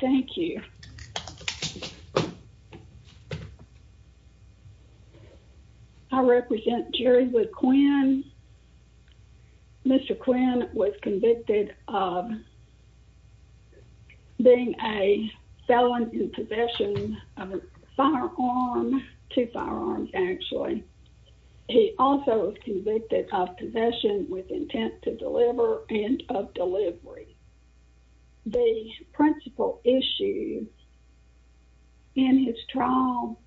Thank you. I represent Jerry with Quinn. Mr. Quinn was convicted of being a felon in possession of a firearm, two firearms actually. He also was convicted of possession with intent to issue in his trial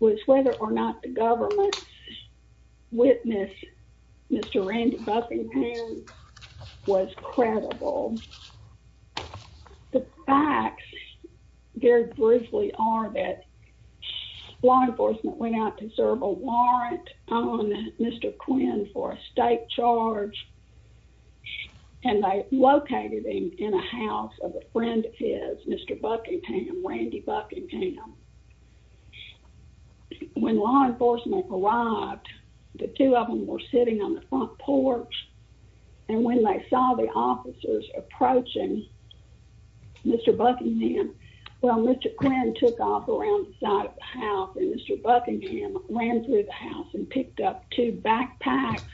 was whether or not the government's witness, Mr. Randy Buffington was credible. The facts very briefly are that law enforcement went out to serve a warrant on Mr. Quinn for a state charge, and I located him in a house of a friend of his, Mr. Buckingham, Randy Buckingham. When law enforcement arrived, the two of them were sitting on the front porch. And when they saw the officers approaching Mr. Buckingham, well, Mr. Quinn took off around the side of the house and Mr. Buckingham ran through the house and picked up two backpacks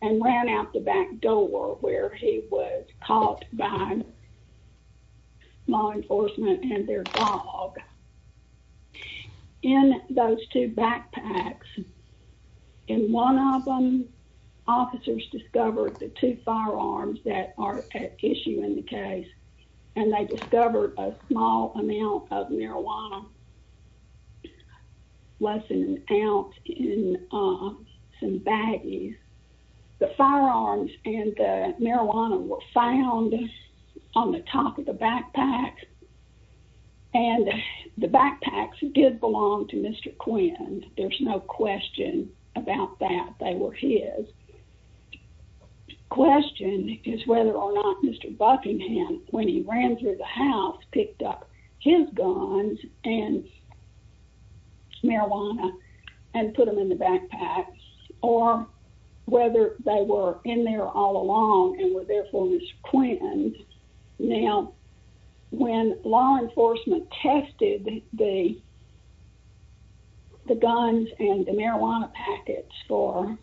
and ran out the back door where he was caught by law enforcement and their dog. In those two backpacks, in one of them, officers discovered the two firearms that are at issue in the house. Less than an ounce in some baggies. The firearms and the marijuana were found on the top of the backpack. And the backpacks did belong to Mr. Quinn. There's no question about that. They were his. The question is whether or not Mr. Buckingham, when he ran through the house, picked up his guns and marijuana and put them in the backpack, or whether they were in there all along and were there for Mr. Quinn. Now, when law enforcement tested the guns and the marijuana packets for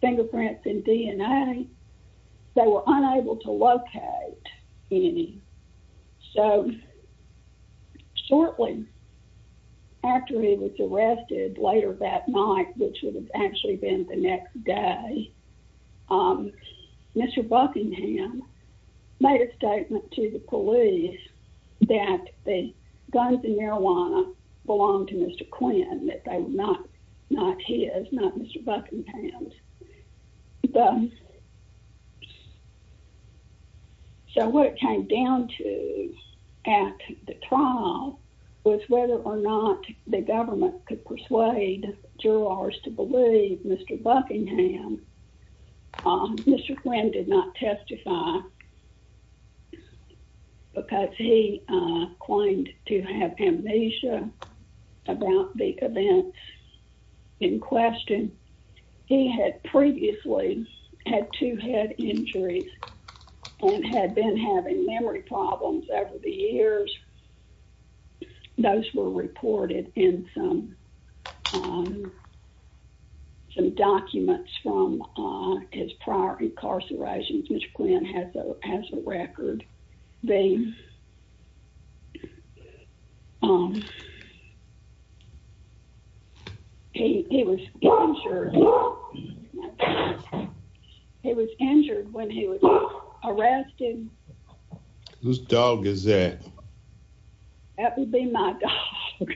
fingerprints and DNA, they were unable to locate any. So, shortly after he was arrested, later that night, which would have actually been the next day, Mr. Buckingham made a statement to the police that the guns and marijuana belonged to Mr. Quinn, that they were not his, not Mr. Buckingham's. So, what it came down to at the trial was whether or not the government could persuade jurors to believe Mr. Buckingham. Mr. Quinn did not testify because he claimed to have amnesia about the events in question. He had previously had two head injuries and had been having memory problems over the years. Those were reported in some documents from his prior incarcerations. Mr. Quinn has a record being... He was injured when he was arrested. Whose dog is that? That would be my dog.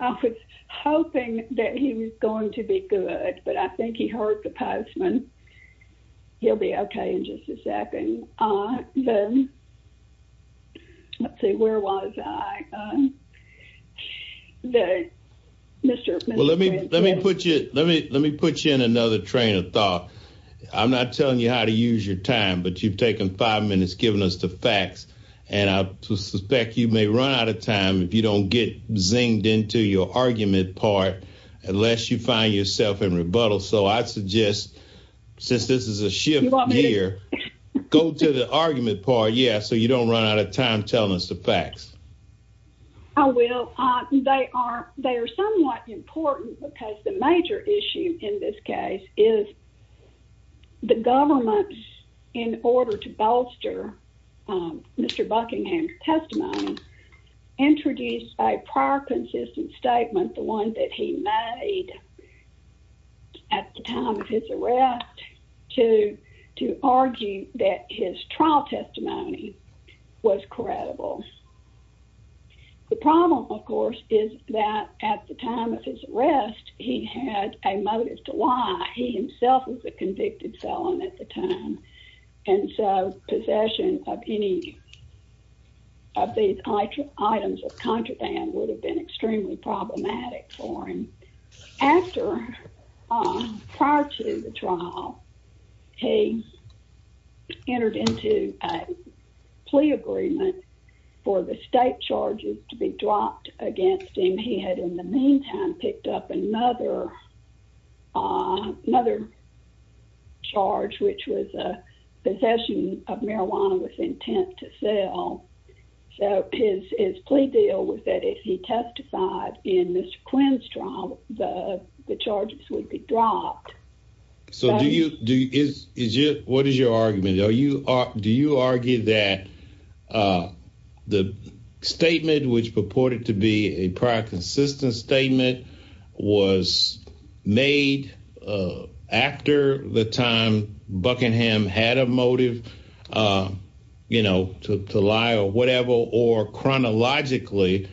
I was hoping that he was going to be good, but I think he heard the postman. He'll be okay in just a second. Then, let's see, where was I? Well, let me put you in another train of thought. I'm not telling you how to use your time, but you've taken five minutes giving us the facts, and I suspect you may run out of time if you don't get zinged into your argument part unless you find yourself in rebuttal. So, I suggest, since this is a shift year, go to the argument part, yeah, so you don't run out of time telling us the facts. I will. They are somewhat important because the major issue in this case is that the government, in order to bolster Mr. Buckingham's testimony, introduced a prior consistent statement, the one that he made at the time of his arrest, to argue that his trial testimony was credible. The problem, of course, is that at the time of his arrest, his health was a convicted felon at the time, and so possession of any of these items of contraband would have been extremely problematic for him. After, prior to the trial, he entered into a plea agreement for the state charges to be dropped against him. He had, in the meantime, picked up another charge, which was a possession of marijuana with intent to sell. So, his plea deal was that if he testified in Mr. Quinn's trial, the charges would be dropped. So, what is your argument? Do you argue that the statement, which purported to be a prior consistent statement, was made after the time Buckingham had a motive, you know, to lie or whatever, or chronologically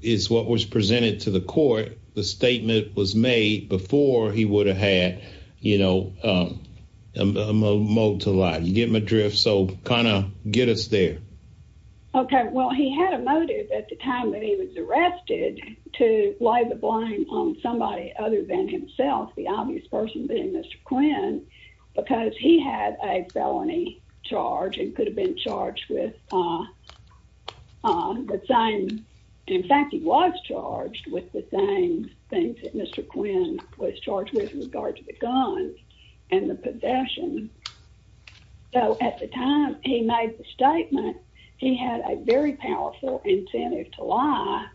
is what was presented to the court, the statement was made before he would have had, you know, a motive to lie? Give him a drift, so to get us there. Okay, well, he had a motive at the time that he was arrested to lay the blame on somebody other than himself, the obvious person being Mr. Quinn, because he had a felony charge and could have been charged with the same, in fact, he was charged with the same things that Mr. Quinn was charged with in regards to the guns and the possession. So, at the time he made the statement, he had a very powerful incentive to lie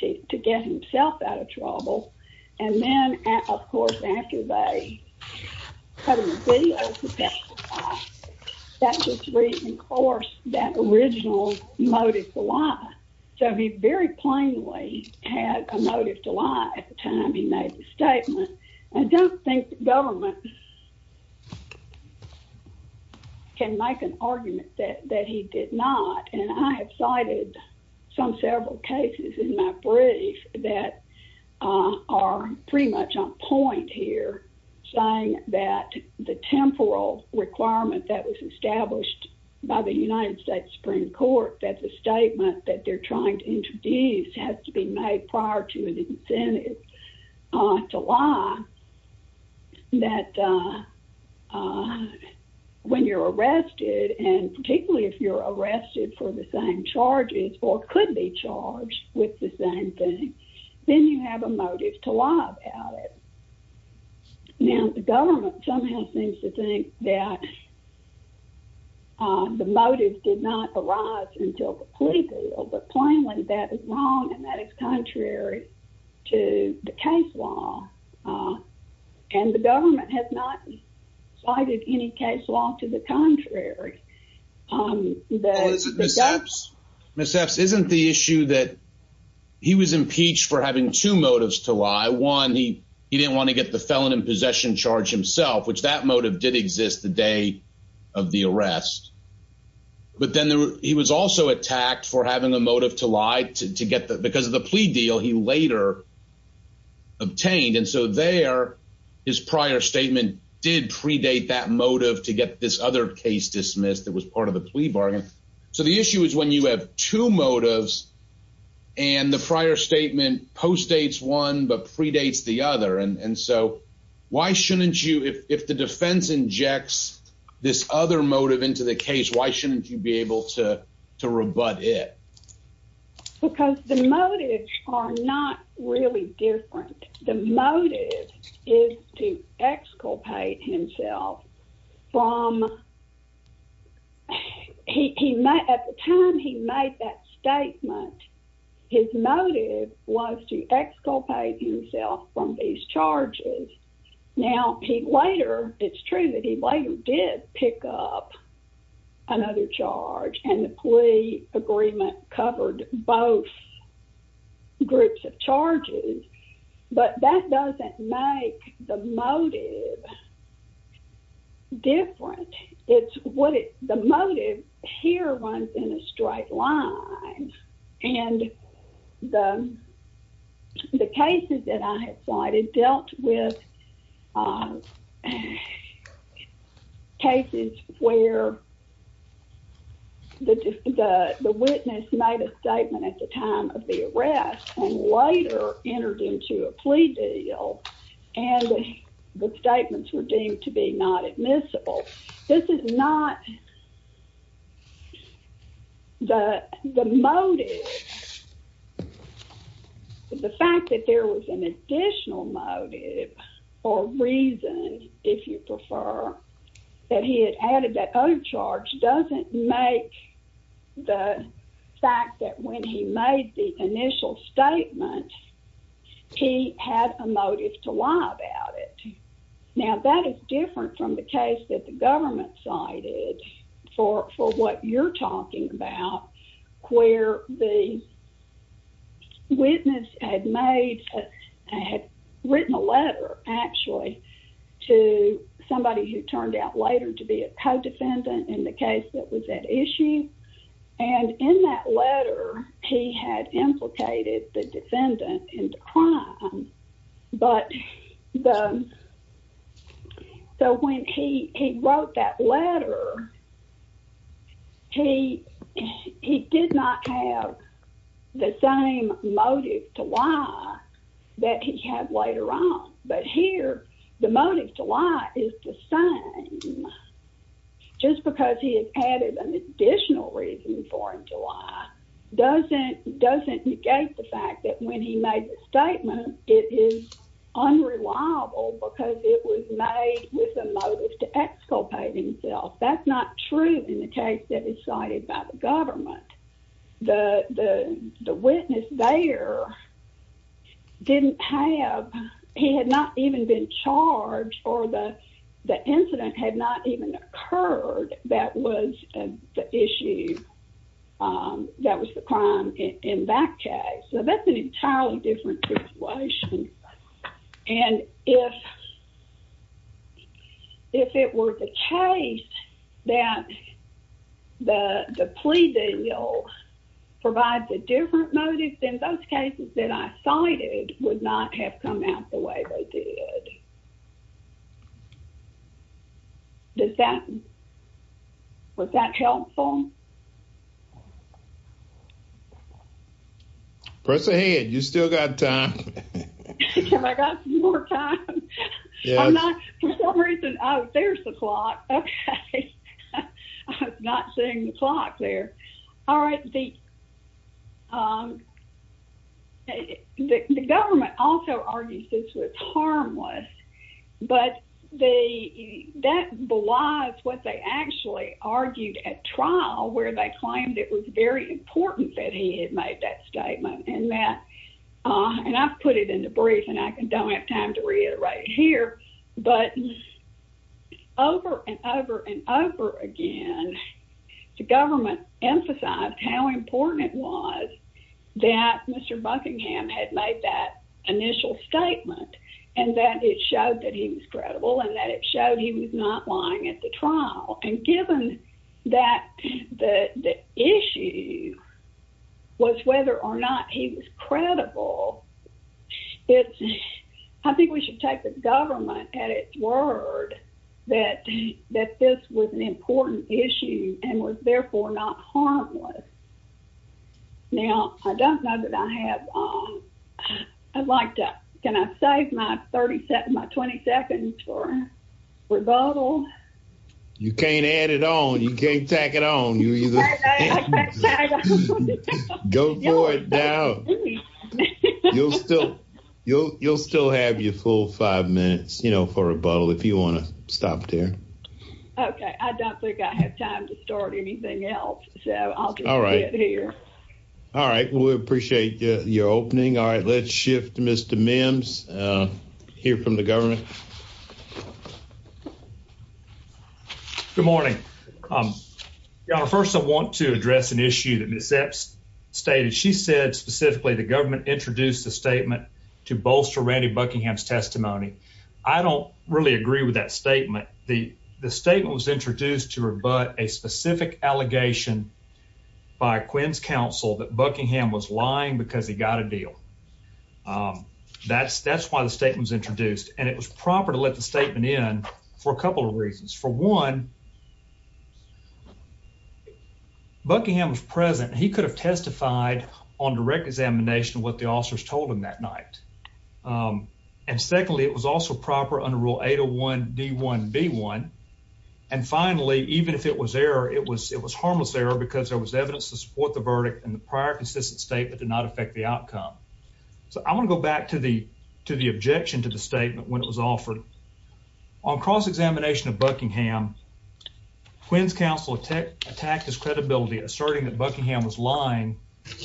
to get himself out of trouble, and then, of course, after they cut him a video to testify, that would recourse that original motive to lie. So, he very plainly had a motive to lie at the time he made the statement. Can make an argument that he did not, and I have cited some several cases in my brief that are pretty much on point here, saying that the temporal requirement that was established by the United States Supreme Court, that the statement that they're trying to introduce has to be made prior to an incentive to lie, that when you're arrested, and particularly if you're arrested for the same charges or could be charged with the same thing, then you have a motive to lie about it. Now, the government somehow seems to think that the motive did not until the plea deal, but plainly that is wrong and that is contrary to the case law, and the government has not cited any case law to the contrary. Ms. Epps, isn't the issue that he was impeached for having two motives to lie? One, he didn't want to get the felon in possession charge himself, which that motive did exist the day of the arrest, but then he was also attacked for having a motive to lie because of the plea deal he later obtained, and so there his prior statement did predate that motive to get this other case dismissed that was part of the plea bargain. So, the issue is when you have two motives and the prior statement postdates one but predates the other, and so why shouldn't you, if the defense injects this other motive into the case, why shouldn't you be able to rebut it? Because the motives are not really different. The motive is to exculpate himself from, at the time he made that statement, his motive was to exculpate himself from these charges. Now, he later, it's true that he later did pick up another charge, and the plea agreement covered both groups of charges, but that doesn't make the motive different. It's what it, the motive here runs in a straight line, and the cases that I had cited dealt with cases where the witness made a statement at the time of the arrest and later entered into a plea deal, and the statements were deemed to be not admissible. This is not the motive. The fact that there was an additional motive or reason, if you prefer, that he had added that motive to lie about it. Now, that is different from the case that the government cited for what you're talking about, where the witness had made, had written a letter, actually, to somebody who turned out later to be a co-defendant in the case that was at issue, and in that letter, he had implicated the defendant into crime, but the, so when he wrote that letter, he did not have the same motive to lie that he had later on, but here, the motive to lie is the same. Just because he had added an additional reason for him to lie doesn't negate the fact that when he made the statement, it is unreliable because it was made with a motive to exculpate himself. That's not true in the case that is cited by the government. The witness there didn't have, he had not even been charged or the incident had not even occurred that was the issue, that was the crime in that case. That's an entirely different situation, and if it were the case that the plea deal provides a different motive, then those cases that I cited would not have come out the way they did. Does that, was that helpful? Press ahead, you still got time. Have I got some more time? I'm not, for some reason, oh, there's the clock, okay. I was not seeing the clock there. All right, the government also argues this was harmless, but that belies what they actually argued at trial where they claimed it was very important that he had made that statement, and that, and I've put it in the brief, and I don't have time to reiterate it here, but over and over and over again, the government emphasized how important it was that Mr. Buckingham had made that initial statement, and that it showed that he was was, whether or not he was credible, it's, I think we should take the government at its word that that this was an important issue and was therefore not harmless. Now, I don't know that I have, I'd like to, can I save my 30 seconds, my 20 seconds for rebuttal? You can't add it on, you can't tack it on. Go for it now. You'll still, you'll still have your full five minutes, you know, for rebuttal if you want to stop there. Okay, I don't think I have time to start anything else, so I'll just sit here. All right, we appreciate your opening. All right, let's shift to Mr. Mims, hear from the government. Good morning. Your Honor, first I want to address an issue that Ms. Epps stated. She said specifically the government introduced the statement to bolster Randy Buckingham's testimony. I don't really agree with that statement. The statement was introduced to rebut a specific allegation by Quinn's counsel that Buckingham was lying because he got a deal. That's that's why the statement was introduced, and it was proper to let the statement in for a couple of reasons. For one, Buckingham was present. He could have testified on direct examination what the officers told him that night. And secondly, it was also proper under Rule 801 D1 B1. And finally, even if it was error, it was it was harmless error because there was evidence to support the verdict and prior consistent statement did not affect the outcome. So I want to go back to the to the objection to the statement when it was offered on cross examination of Buckingham. Quinn's counsel attacked his credibility, asserting that Buckingham was lying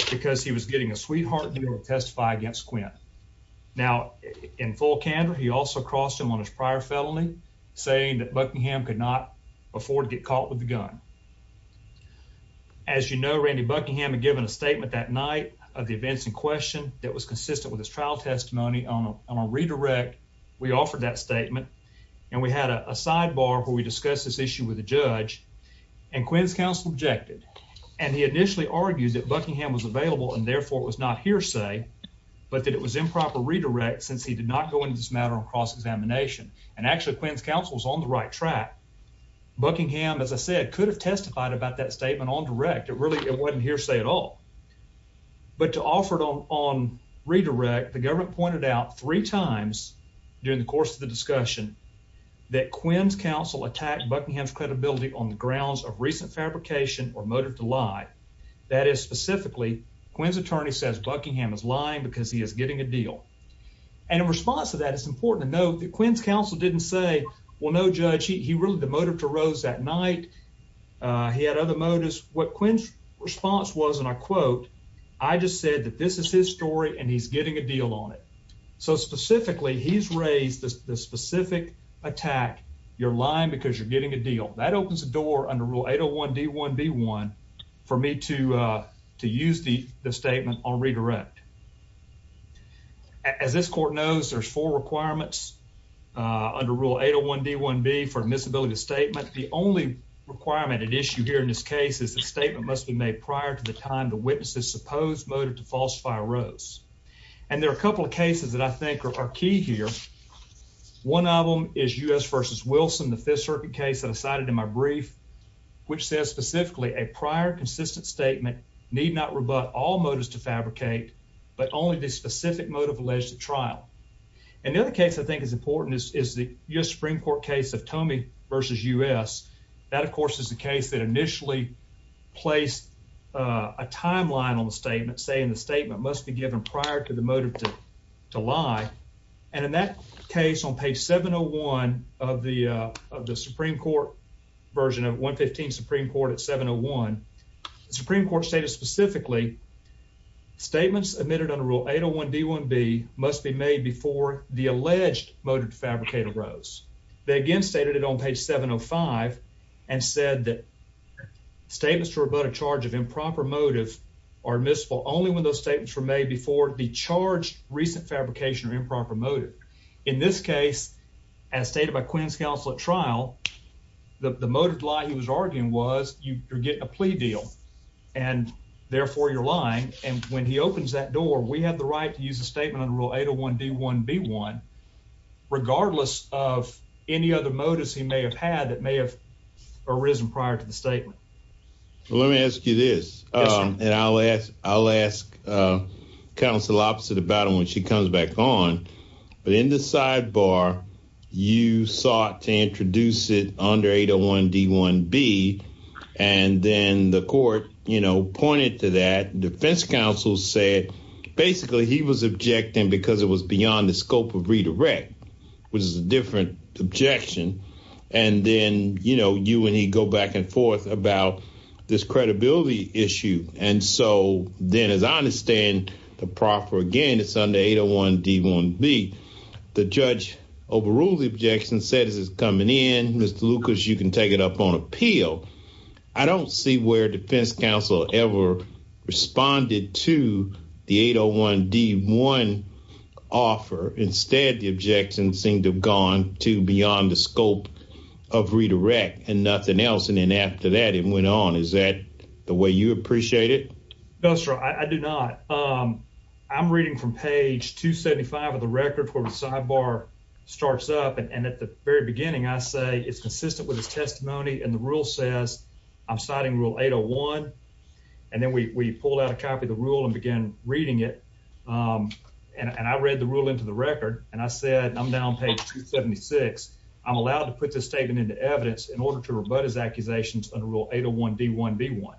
because he was getting a sweetheart to testify against Quinn. Now, in full candor, he also crossed him on his prior felony, saying that Buckingham could not afford to get caught with a gun. As you know, Randy Buckingham had given a statement that night of the events in question that was consistent with his trial testimony on a redirect. We offered that statement, and we had a sidebar where we discuss this issue with the judge and Quinn's counsel objected, and he initially argued that Buckingham was available and therefore was not hearsay, but that it was improper redirect since he did not go into this matter on cross examination. And actually, Quinn's counsel is on the right track. Buckingham, as I said, could have testified about that statement on direct. It really it wasn't hearsay at all, but to offer it on on redirect, the government pointed out three times during the course of the discussion that Quinn's counsel attacked Buckingham's credibility on the grounds of recent fabrication or motive to lie. That is, specifically, Quinn's attorney says Buckingham is lying because he is getting a deal. And in response to that, it's important to note that Quinn's counsel didn't say, well, no, Judge, he really demoted to Rose that night. He had other motives. What Quinn's response was, and I quote, I just said that this is his story and he's getting a deal on it. So specifically, he's raised the specific attack. You're lying because you're getting a deal that opens the under Rule 801 D1 B1 for me to use the statement on redirect. As this court knows, there's four requirements under Rule 801 D1 B for admissibility statement. The only requirement at issue here in this case is the statement must be made prior to the time the witnesses supposed motive to falsify Rose. And there are a couple of cases that I think are key here. One of them is U. S. Versus Wilson, the Fifth Circuit case that I cited in my brief, which says specifically a prior consistent statement need not rebut all motives to fabricate, but only the specific motive alleged at trial. And the other case I think is important is the U. S. Supreme Court case of Tommy versus U. S. That, of course, is the case that initially placed a timeline on the statement, saying the statement must be given prior to the motive to lie. And in that case on page 701 of the of the Supreme Court version of 1 15 Supreme Court at 701 Supreme Court stated specifically statements admitted under Rule 801 D1 B must be made before the alleged motive fabricator rose. They again stated it on page 705 and said that statements were about a charge of improper motive are missed for only when those statements were made before the charge recent fabrication or improper motive. In this case, as stated by Quinn's counsel at trial, the motive lie he was arguing was you're getting a plea deal and therefore you're lying. And when he opens that door, we have the right to use a statement on Rule 801 D1 B1 regardless of any other motives he may have had that may have arisen prior to statement. Let me ask you this, and I'll ask I'll ask counsel opposite about him when she comes back on. But in the sidebar, you sought to introduce it under 801 D1 B. And then the court, you know, pointed to that defense counsel said basically he was objecting because it was beyond the scope of about this credibility issue. And so then, as I understand the proffer again, it's under 801 D1 B. The judge overruled the objection, said this is coming in. Mr. Lucas, you can take it up on appeal. I don't see where defense counsel ever responded to the 801 D1 offer. Instead, the objection seemed to have gone to beyond the scope of redirect and nothing else. And then after that, it went on. Is that the way you appreciate it? That's right. I do not. I'm reading from page 275 of the record where the sidebar starts up. And at the very beginning, I say it's consistent with his testimony. And the rule says I'm citing Rule 801. And then we pulled out a copy of the rule and began reading it. And I read the rule into the record and I said, I'm down page 276. I'm allowed to put this statement into evidence in order to rebut his accusations under Rule 801 D1 B1.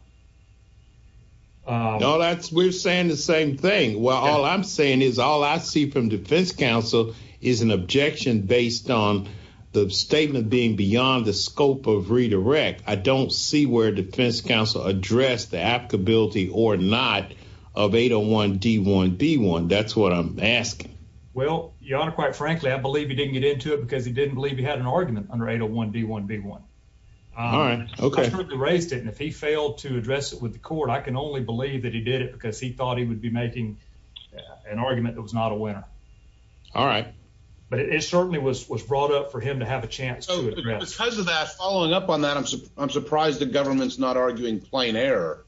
No, that's we're saying the same thing. Well, all I'm saying is all I see from defense counsel is an objection based on the statement being beyond the scope of redirect. I don't see where defense counsel addressed the applicability or not of 801 D1 B1. That's what I'm asking. Well, your honor, quite frankly, I believe he didn't get into it because he didn't believe he had an argument under 801 D1 B1. All right. Okay. He raised it. And if he failed to address it with the court, I can only believe that he did it because he thought he would be making an argument that was not a winner. All right. But it certainly was was brought up for him to have a chance because of that. Following up on that, I'm surprised the government's not arguing plain error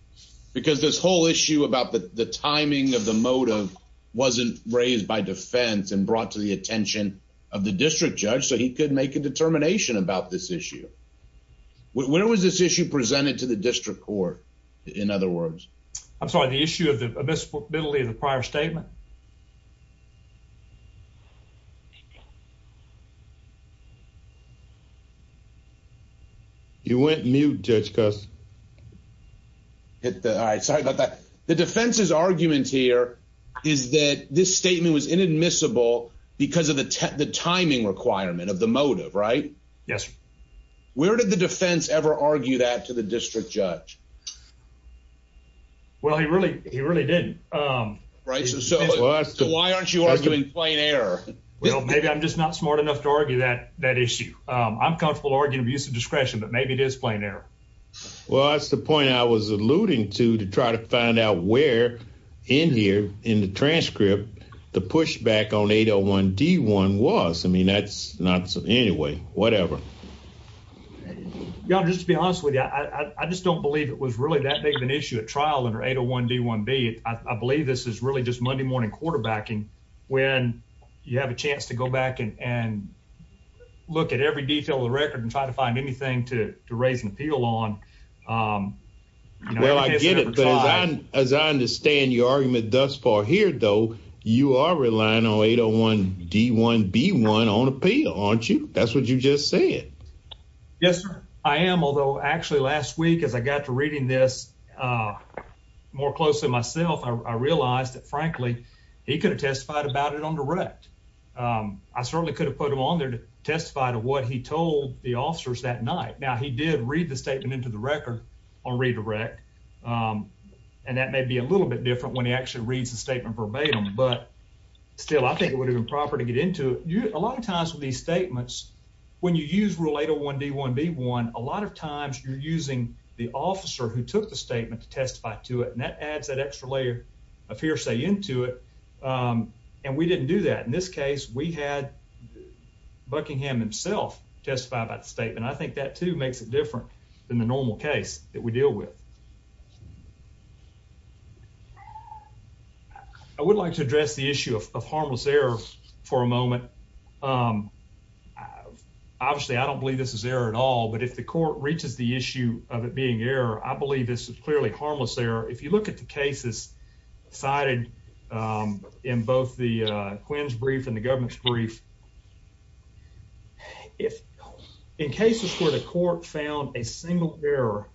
because this whole issue about the timing of the motive wasn't raised by defense and brought to the attention of the district judge so he could make a determination about this issue. Where was this issue presented to the district court? In other words, I'm sorry, issue of the abysmal ability of the prior statement. You went mute, Judge Cus. All right. Sorry about that. The defense's argument here is that this statement was inadmissible because of the timing requirement of the motive, right? Yes. Where did the defense ever argue that to the district judge? Well, he really he really didn't. Right. So why aren't you arguing plain error? Well, maybe I'm just not smart enough to argue that that issue. I'm comfortable arguing abuse of discretion, but maybe it is plain error. Well, that's the point I was alluding to to try to find out where in here in the transcript the pushback on 801 D1 was. I mean, that's not anyway, whatever. Yeah, just to be honest with you, I just don't believe it was really that big of an issue at trial under 801 D1B. I believe this is really just Monday morning quarterbacking when you have a chance to go back and look at every detail of the record and try to find anything to raise an appeal on. Well, I get it, but as I understand your argument thus far here, though, you are lying on 801 D1B1 on appeal, aren't you? That's what you just said. Yes, sir, I am. Although actually last week as I got to reading this more closely myself, I realized that frankly he could have testified about it on direct. I certainly could have put him on there to testify to what he told the officers that night. Now, he did read the statement into the record on redirect, and that may be a little bit different when he actually reads the statement verbatim, but still, I think it would have been proper to get into it. A lot of times with these statements, when you use rule 801 D1B1, a lot of times you're using the officer who took the statement to testify to it, and that adds that extra layer of hearsay into it, and we didn't do that. In this case, we had Buckingham himself testify about the statement. I think that too makes it different than the normal case that we deal with. I would like to address the issue of harmless error for a moment. Obviously, I don't believe this is error at all, but if the court reaches the issue of it being error, I believe this is clearly harmless error. If you look at the cases cited in both the Quinn's brief and the government's brief, if in cases where the court found a single error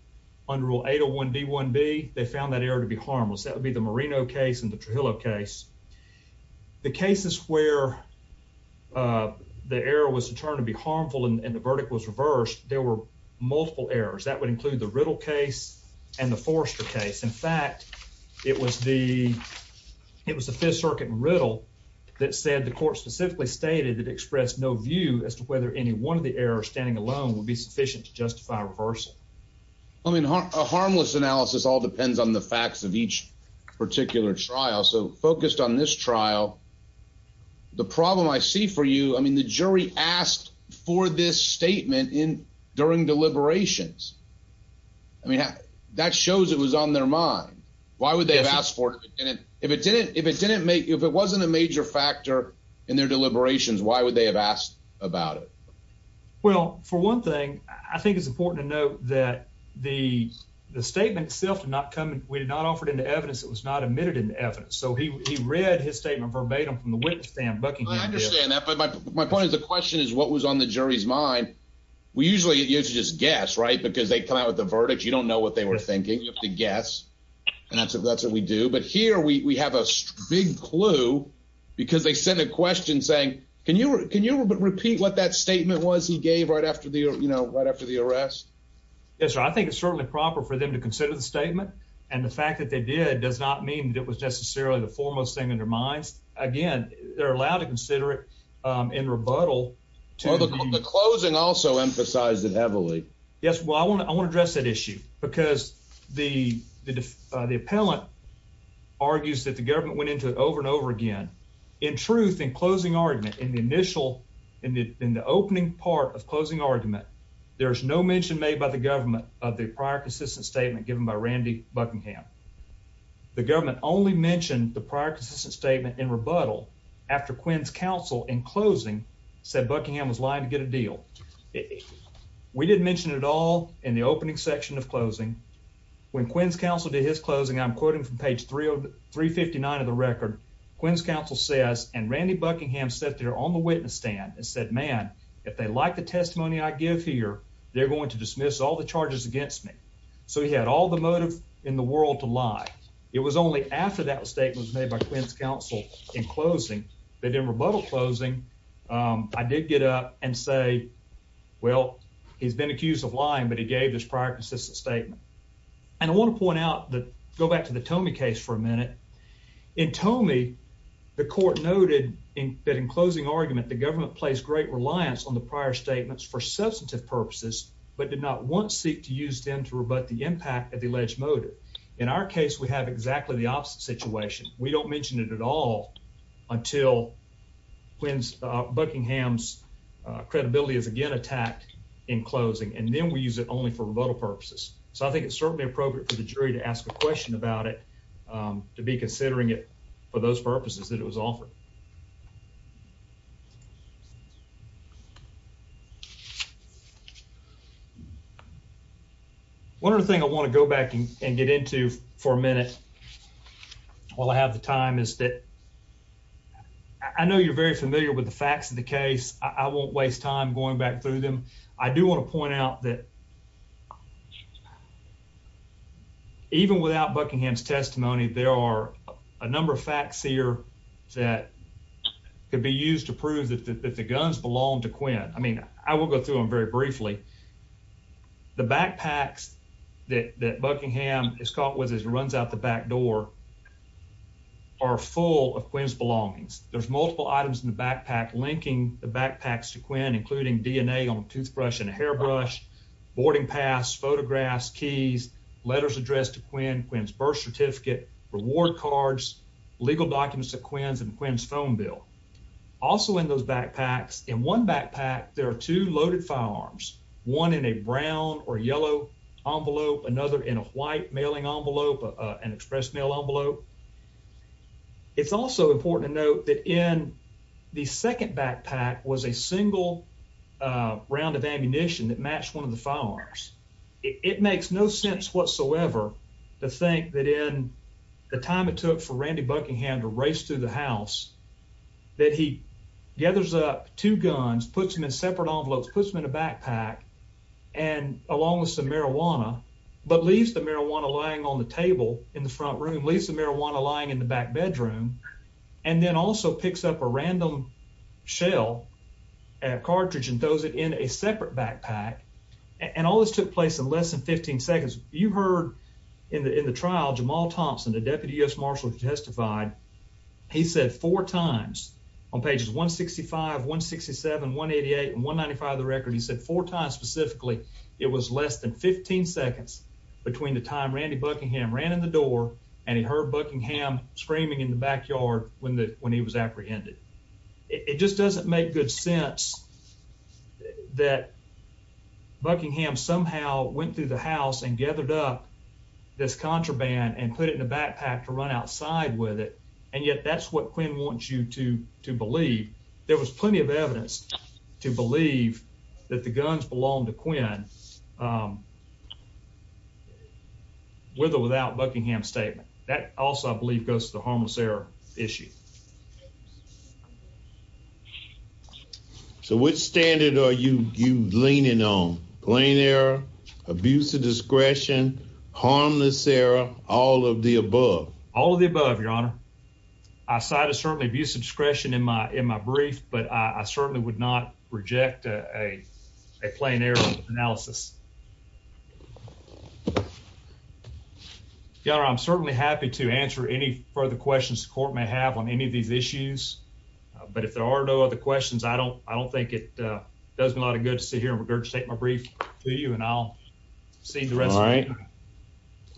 under rule 801 D1B1, they found that to be harmless. That would be the Marino case and the Trujillo case. The cases where the error was determined to be harmful and the verdict was reversed, there were multiple errors. That would include the Riddle case and the Forrester case. In fact, it was the Fifth Circuit and Riddle that said the court specifically stated it expressed no view as to whether any one of the errors standing alone would be sufficient to justify reversal. I mean, a harmless analysis all depends on the facts of each particular trial. So, focused on this trial, the problem I see for you, I mean, the jury asked for this statement during deliberations. I mean, that shows it was on their mind. Why would they have asked for it? If it wasn't a major factor in their deliberations, why would they have asked about it? Well, for one thing, I think it's important to note that the statement itself did not come, we did not offer it into evidence. It was not admitted into evidence. So, he read his statement verbatim from the witness stand. I understand that, but my point is the question is what was on the jury's mind. We usually just guess, right, because they come out with the verdict. You don't know what they were thinking. You have to guess, and that's what we do. But here, we have a big because they sent a question saying, can you repeat what that statement was he gave right after the arrest? Yes, sir. I think it's certainly proper for them to consider the statement, and the fact that they did does not mean that it was necessarily the foremost thing in their minds. Again, they're allowed to consider it in rebuttal. Well, the closing also emphasized it heavily. Yes, well, I want to address that issue because the appellant argues that the government went into it over and over again. In truth, in closing argument in the initial in the opening part of closing argument, there's no mention made by the government of the prior consistent statement given by Randy Buckingham. The government only mentioned the prior consistent statement in rebuttal after Quinn's counsel in closing said Buckingham was lying to get a deal. We didn't mention it all in the opening section of closing. When Quinn's counsel did his closing, I'm quoting from page three of 3 59 of the record. Quinn's counsel says and Randy Buckingham set there on the witness stand and said, Man, if they like the testimony I give here, they're going to dismiss all the charges against me. So he had all the motive in the world to lie. It was only after that statement was made by Quinn's counsel in closing. They didn't rebuttal closing. I did get up and say, Well, he's been accused of lying, but he gave this prior consistent statement. And I want to point out that go back to the Tony case for a minute. In Tony, the court noted that in closing argument, the government plays great reliance on the prior statements for substantive purposes, but did not once seek to use them to rebut the impact of the alleged motive. In our case, we have exactly the opposite situation. We don't mention it at all until Quinn's Buckingham's credibility is again attacked in closing, and then we use it only for rebuttal purposes. So I think it's certainly appropriate for the jury to ask a question about it, um, to be considering it for those purposes that it was offered. One other thing I want to go back and get into for a minute while I have the time is that I know you're very familiar with the facts of the case. I won't waste time going back through them. I do want to point out that even without Buckingham's testimony, there are a number of facts here that could be used to prove that the guns belong to Quinn. I mean, I will go through them very briefly. The backpacks that Buckingham is caught with his runs out the back door are full of Quinn's belongings. There's multiple items in the backpack linking the backpacks to Quinn, including DNA on toothbrush and hairbrush, boarding pass, photographs, keys, letters addressed to Quinn, Quinn's birth certificate, reward cards, legal documents of Quinn's and Quinn's phone bill. Also in those backpacks, in one backpack, there are two loaded firearms, one in a brown or yellow envelope, another in a white mailing envelope, an express mail envelope. It's also important to note that in the second backpack was a single round of ammunition that matched one of the firearms. It makes no sense whatsoever to think that in the time it took for Randy Buckingham to race through the house that he gathers up two guns, puts them in separate envelopes, puts them in a backpack, and along with some marijuana, but leaves the marijuana lying on the table in the front room, leaves the marijuana lying in the back bedroom, and then also picks up a random shell cartridge and throws it in a separate backpack. And all this took place in less than 15 seconds. You've heard in the trial, Jamal Thompson, the deputy U.S. marshal who testified, he said four times on pages 165, 167, 188, and 195 of the Randy Buckingham ran in the door and he heard Buckingham screaming in the backyard when he was apprehended. It just doesn't make good sense that Buckingham somehow went through the house and gathered up this contraband and put it in a backpack to run outside with it, and yet that's what Quinn wants you to believe. There was plenty of evidence to believe that the guns belonged to Buckingham with or without Buckingham's statement. That also, I believe, goes to the harmless error issue. So which standard are you leaning on? Plain error, abusive discretion, harmless error, all of the above? All of the above, your honor. I cited certainly abusive discretion in my brief, but I certainly would not reject a plain error analysis. Your honor, I'm certainly happy to answer any further questions the court may have on any of these issues, but if there are no other questions, I don't think it does me a lot of good to sit here and state my brief to you, and I'll see the rest of you. All right.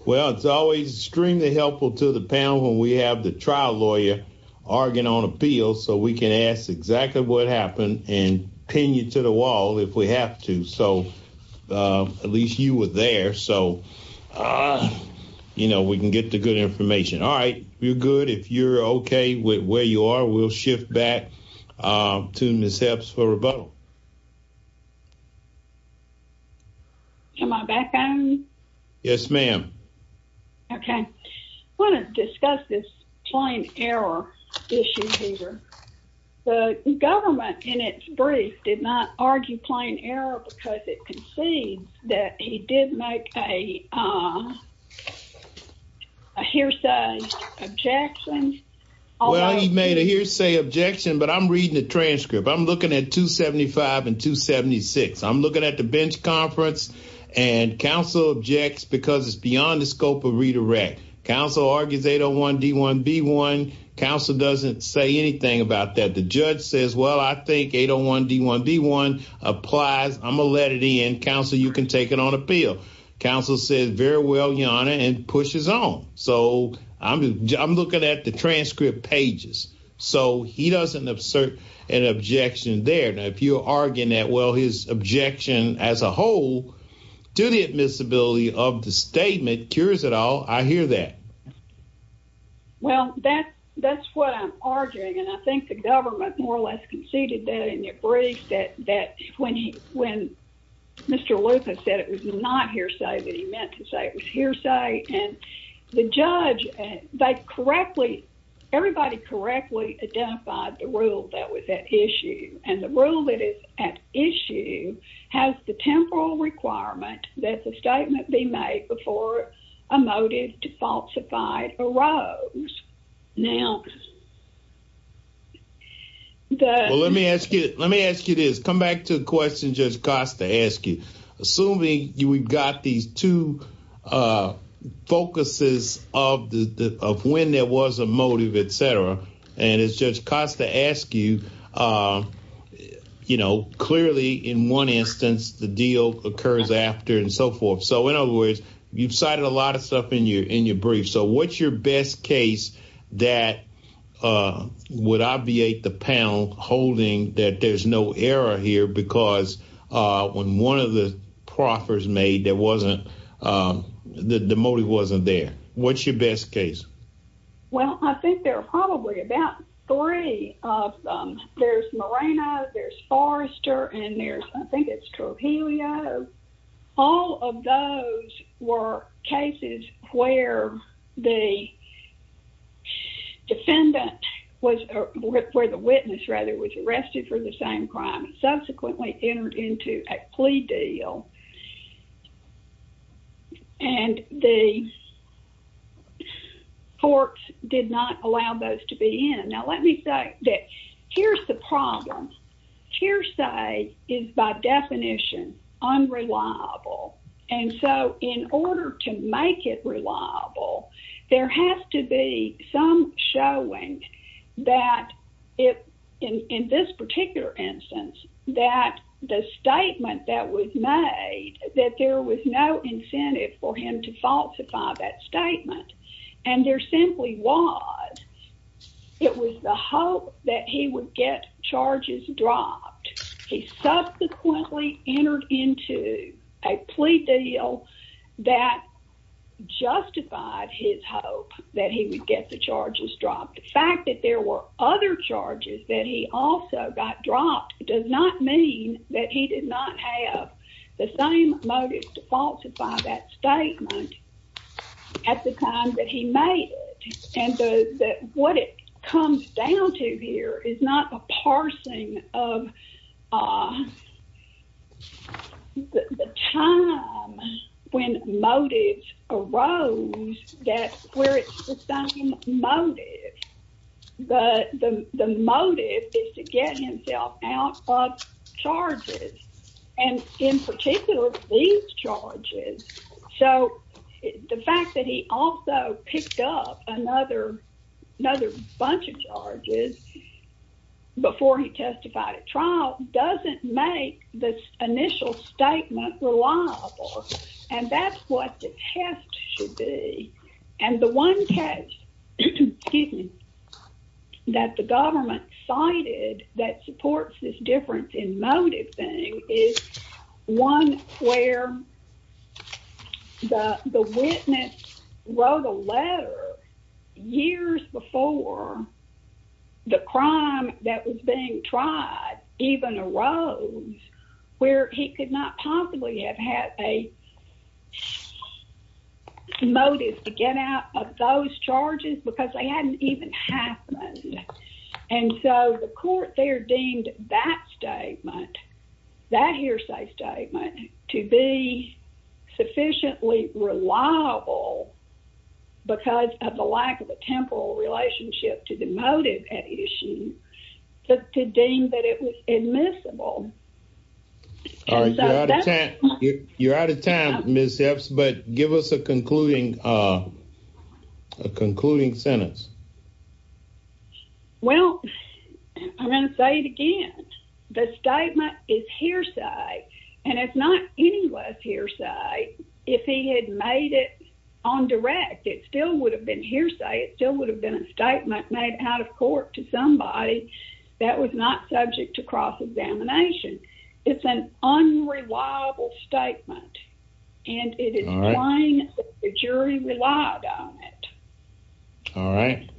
Well, it's always extremely helpful to the panel when we have the trial lawyer arguing on appeals so we can ask exactly what if we have to. So at least you were there, so, you know, we can get the good information. All right. We're good. If you're okay with where you are, we'll shift back to Ms. Hepps for rebuttal. Am I back on? Yes, ma'am. Okay. I want to discuss this plain error issue here. The government in its brief did not argue plain error because it concedes that he did make a hearsay objection. Well, he made a hearsay objection, but I'm reading the transcript. I'm looking at 275 and 276. I'm looking at the bench conference, and counsel objects because it's beyond the scope of redirect. Counsel argues 801 D1 B1. Counsel doesn't say anything about that. The judge says, well, I think 801 D1 B1 applies. I'm going to let it in. Counsel, you can take it on appeal. Counsel says, very well, Your Honor, and pushes on. So I'm looking at the transcript pages. So he doesn't assert an objection there. Now, if you're arguing that, his objection as a whole to the admissibility of the statement cures it all, I hear that. Well, that's what I'm arguing, and I think the government more or less conceded that in their brief that when Mr. Lucas said it was not hearsay, that he meant to say it was hearsay, and the judge, they correctly, everybody correctly identified the rule that was at issue, and the rule that is at issue has the temporal requirement that the statement be made before a motive to falsify arose. Now, the- Well, let me ask you this. Come back to the question Judge Costa asked you. Assuming we've got these two focuses of when there was a motive, et cetera, and as Judge Costa asked you, you know, clearly in one instance, the deal occurs after and so forth. So in other words, you've cited a lot of stuff in your brief. So what's your best case that would obviate the panel holding that there's no error here because when one of the proffers made there wasn't, the motive wasn't there? What's your best case? Well, I think there are probably about three of them. There's Moreno, there's Forrester, and there's, I think it's Trujillo. All of those were cases where the defendant was, where the witness rather was arrested for the same crime and subsequently entered into a plea deal. And the courts did not allow those to be in. Now, let me say that here's the problem. Hearsay is by definition unreliable. And so in order to make it reliable, there has to be some showing that in this particular instance, that the statement that was made, that there was no incentive for him to falsify that statement. And there simply was. It was the hope that he would get charges dropped. He subsequently entered into a plea deal that justified his hope that he would get the charges dropped. The fact that there were other charges that he also got dropped does not mean that he did not have the same motive to falsify that statement at the time that he made it. And what it comes down to here is not a parsing of the time when motives arose where it's the same motive. The motive is to get himself out of charges. And in particular, these charges. So the fact that he also picked up another bunch of charges before he testified at trial doesn't make this initial statement reliable. And that's what the test should be. And the one test that the government cited that supports this difference in letter years before the crime that was being tried even arose where he could not possibly have had a motive to get out of those charges because they hadn't even happened. And so the court there that statement, that hearsay statement to be sufficiently reliable because of the lack of a temporal relationship to the motive at issue to deem that it was admissible. All right. You're out of time, Ms. Epps, but give us a concluding sentence. Well, I'm going to say it again. The statement is hearsay, and it's not any less hearsay. If he had made it on direct, it still would have been hearsay. It still would have been a statement made out of court to somebody that was not subject to cross-examination. It's an unreliable statement and it is lying if the jury relied on it. All right.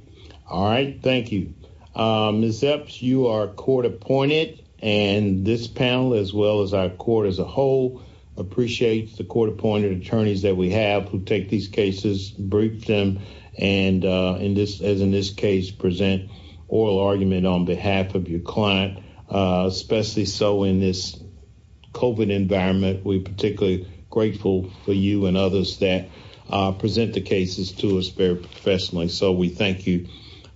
All right. Thank you. Ms. Epps, you are court-appointed, and this panel as well as our court as a whole appreciates the court-appointed attorneys that we have who take these cases, brief them, and as in this case, present oral argument on behalf of your client, especially so in this COVID environment. We particularly grateful for you and others that present the cases to us very professionally, so we thank you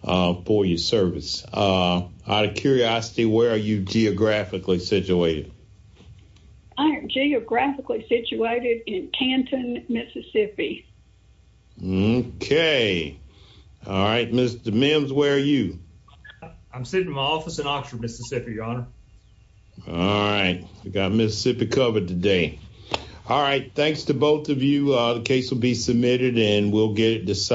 for your service. Out of curiosity, where are you geographically situated? I am geographically situated in Canton, Mississippi. Okay. All right. Mr. Mims, where are you? I'm sitting in my office in Oxford, Mississippi, Your Honor. All right. We got Mississippi covered today. All right. Thanks to both of you. The case will be submitted and we'll get it decided.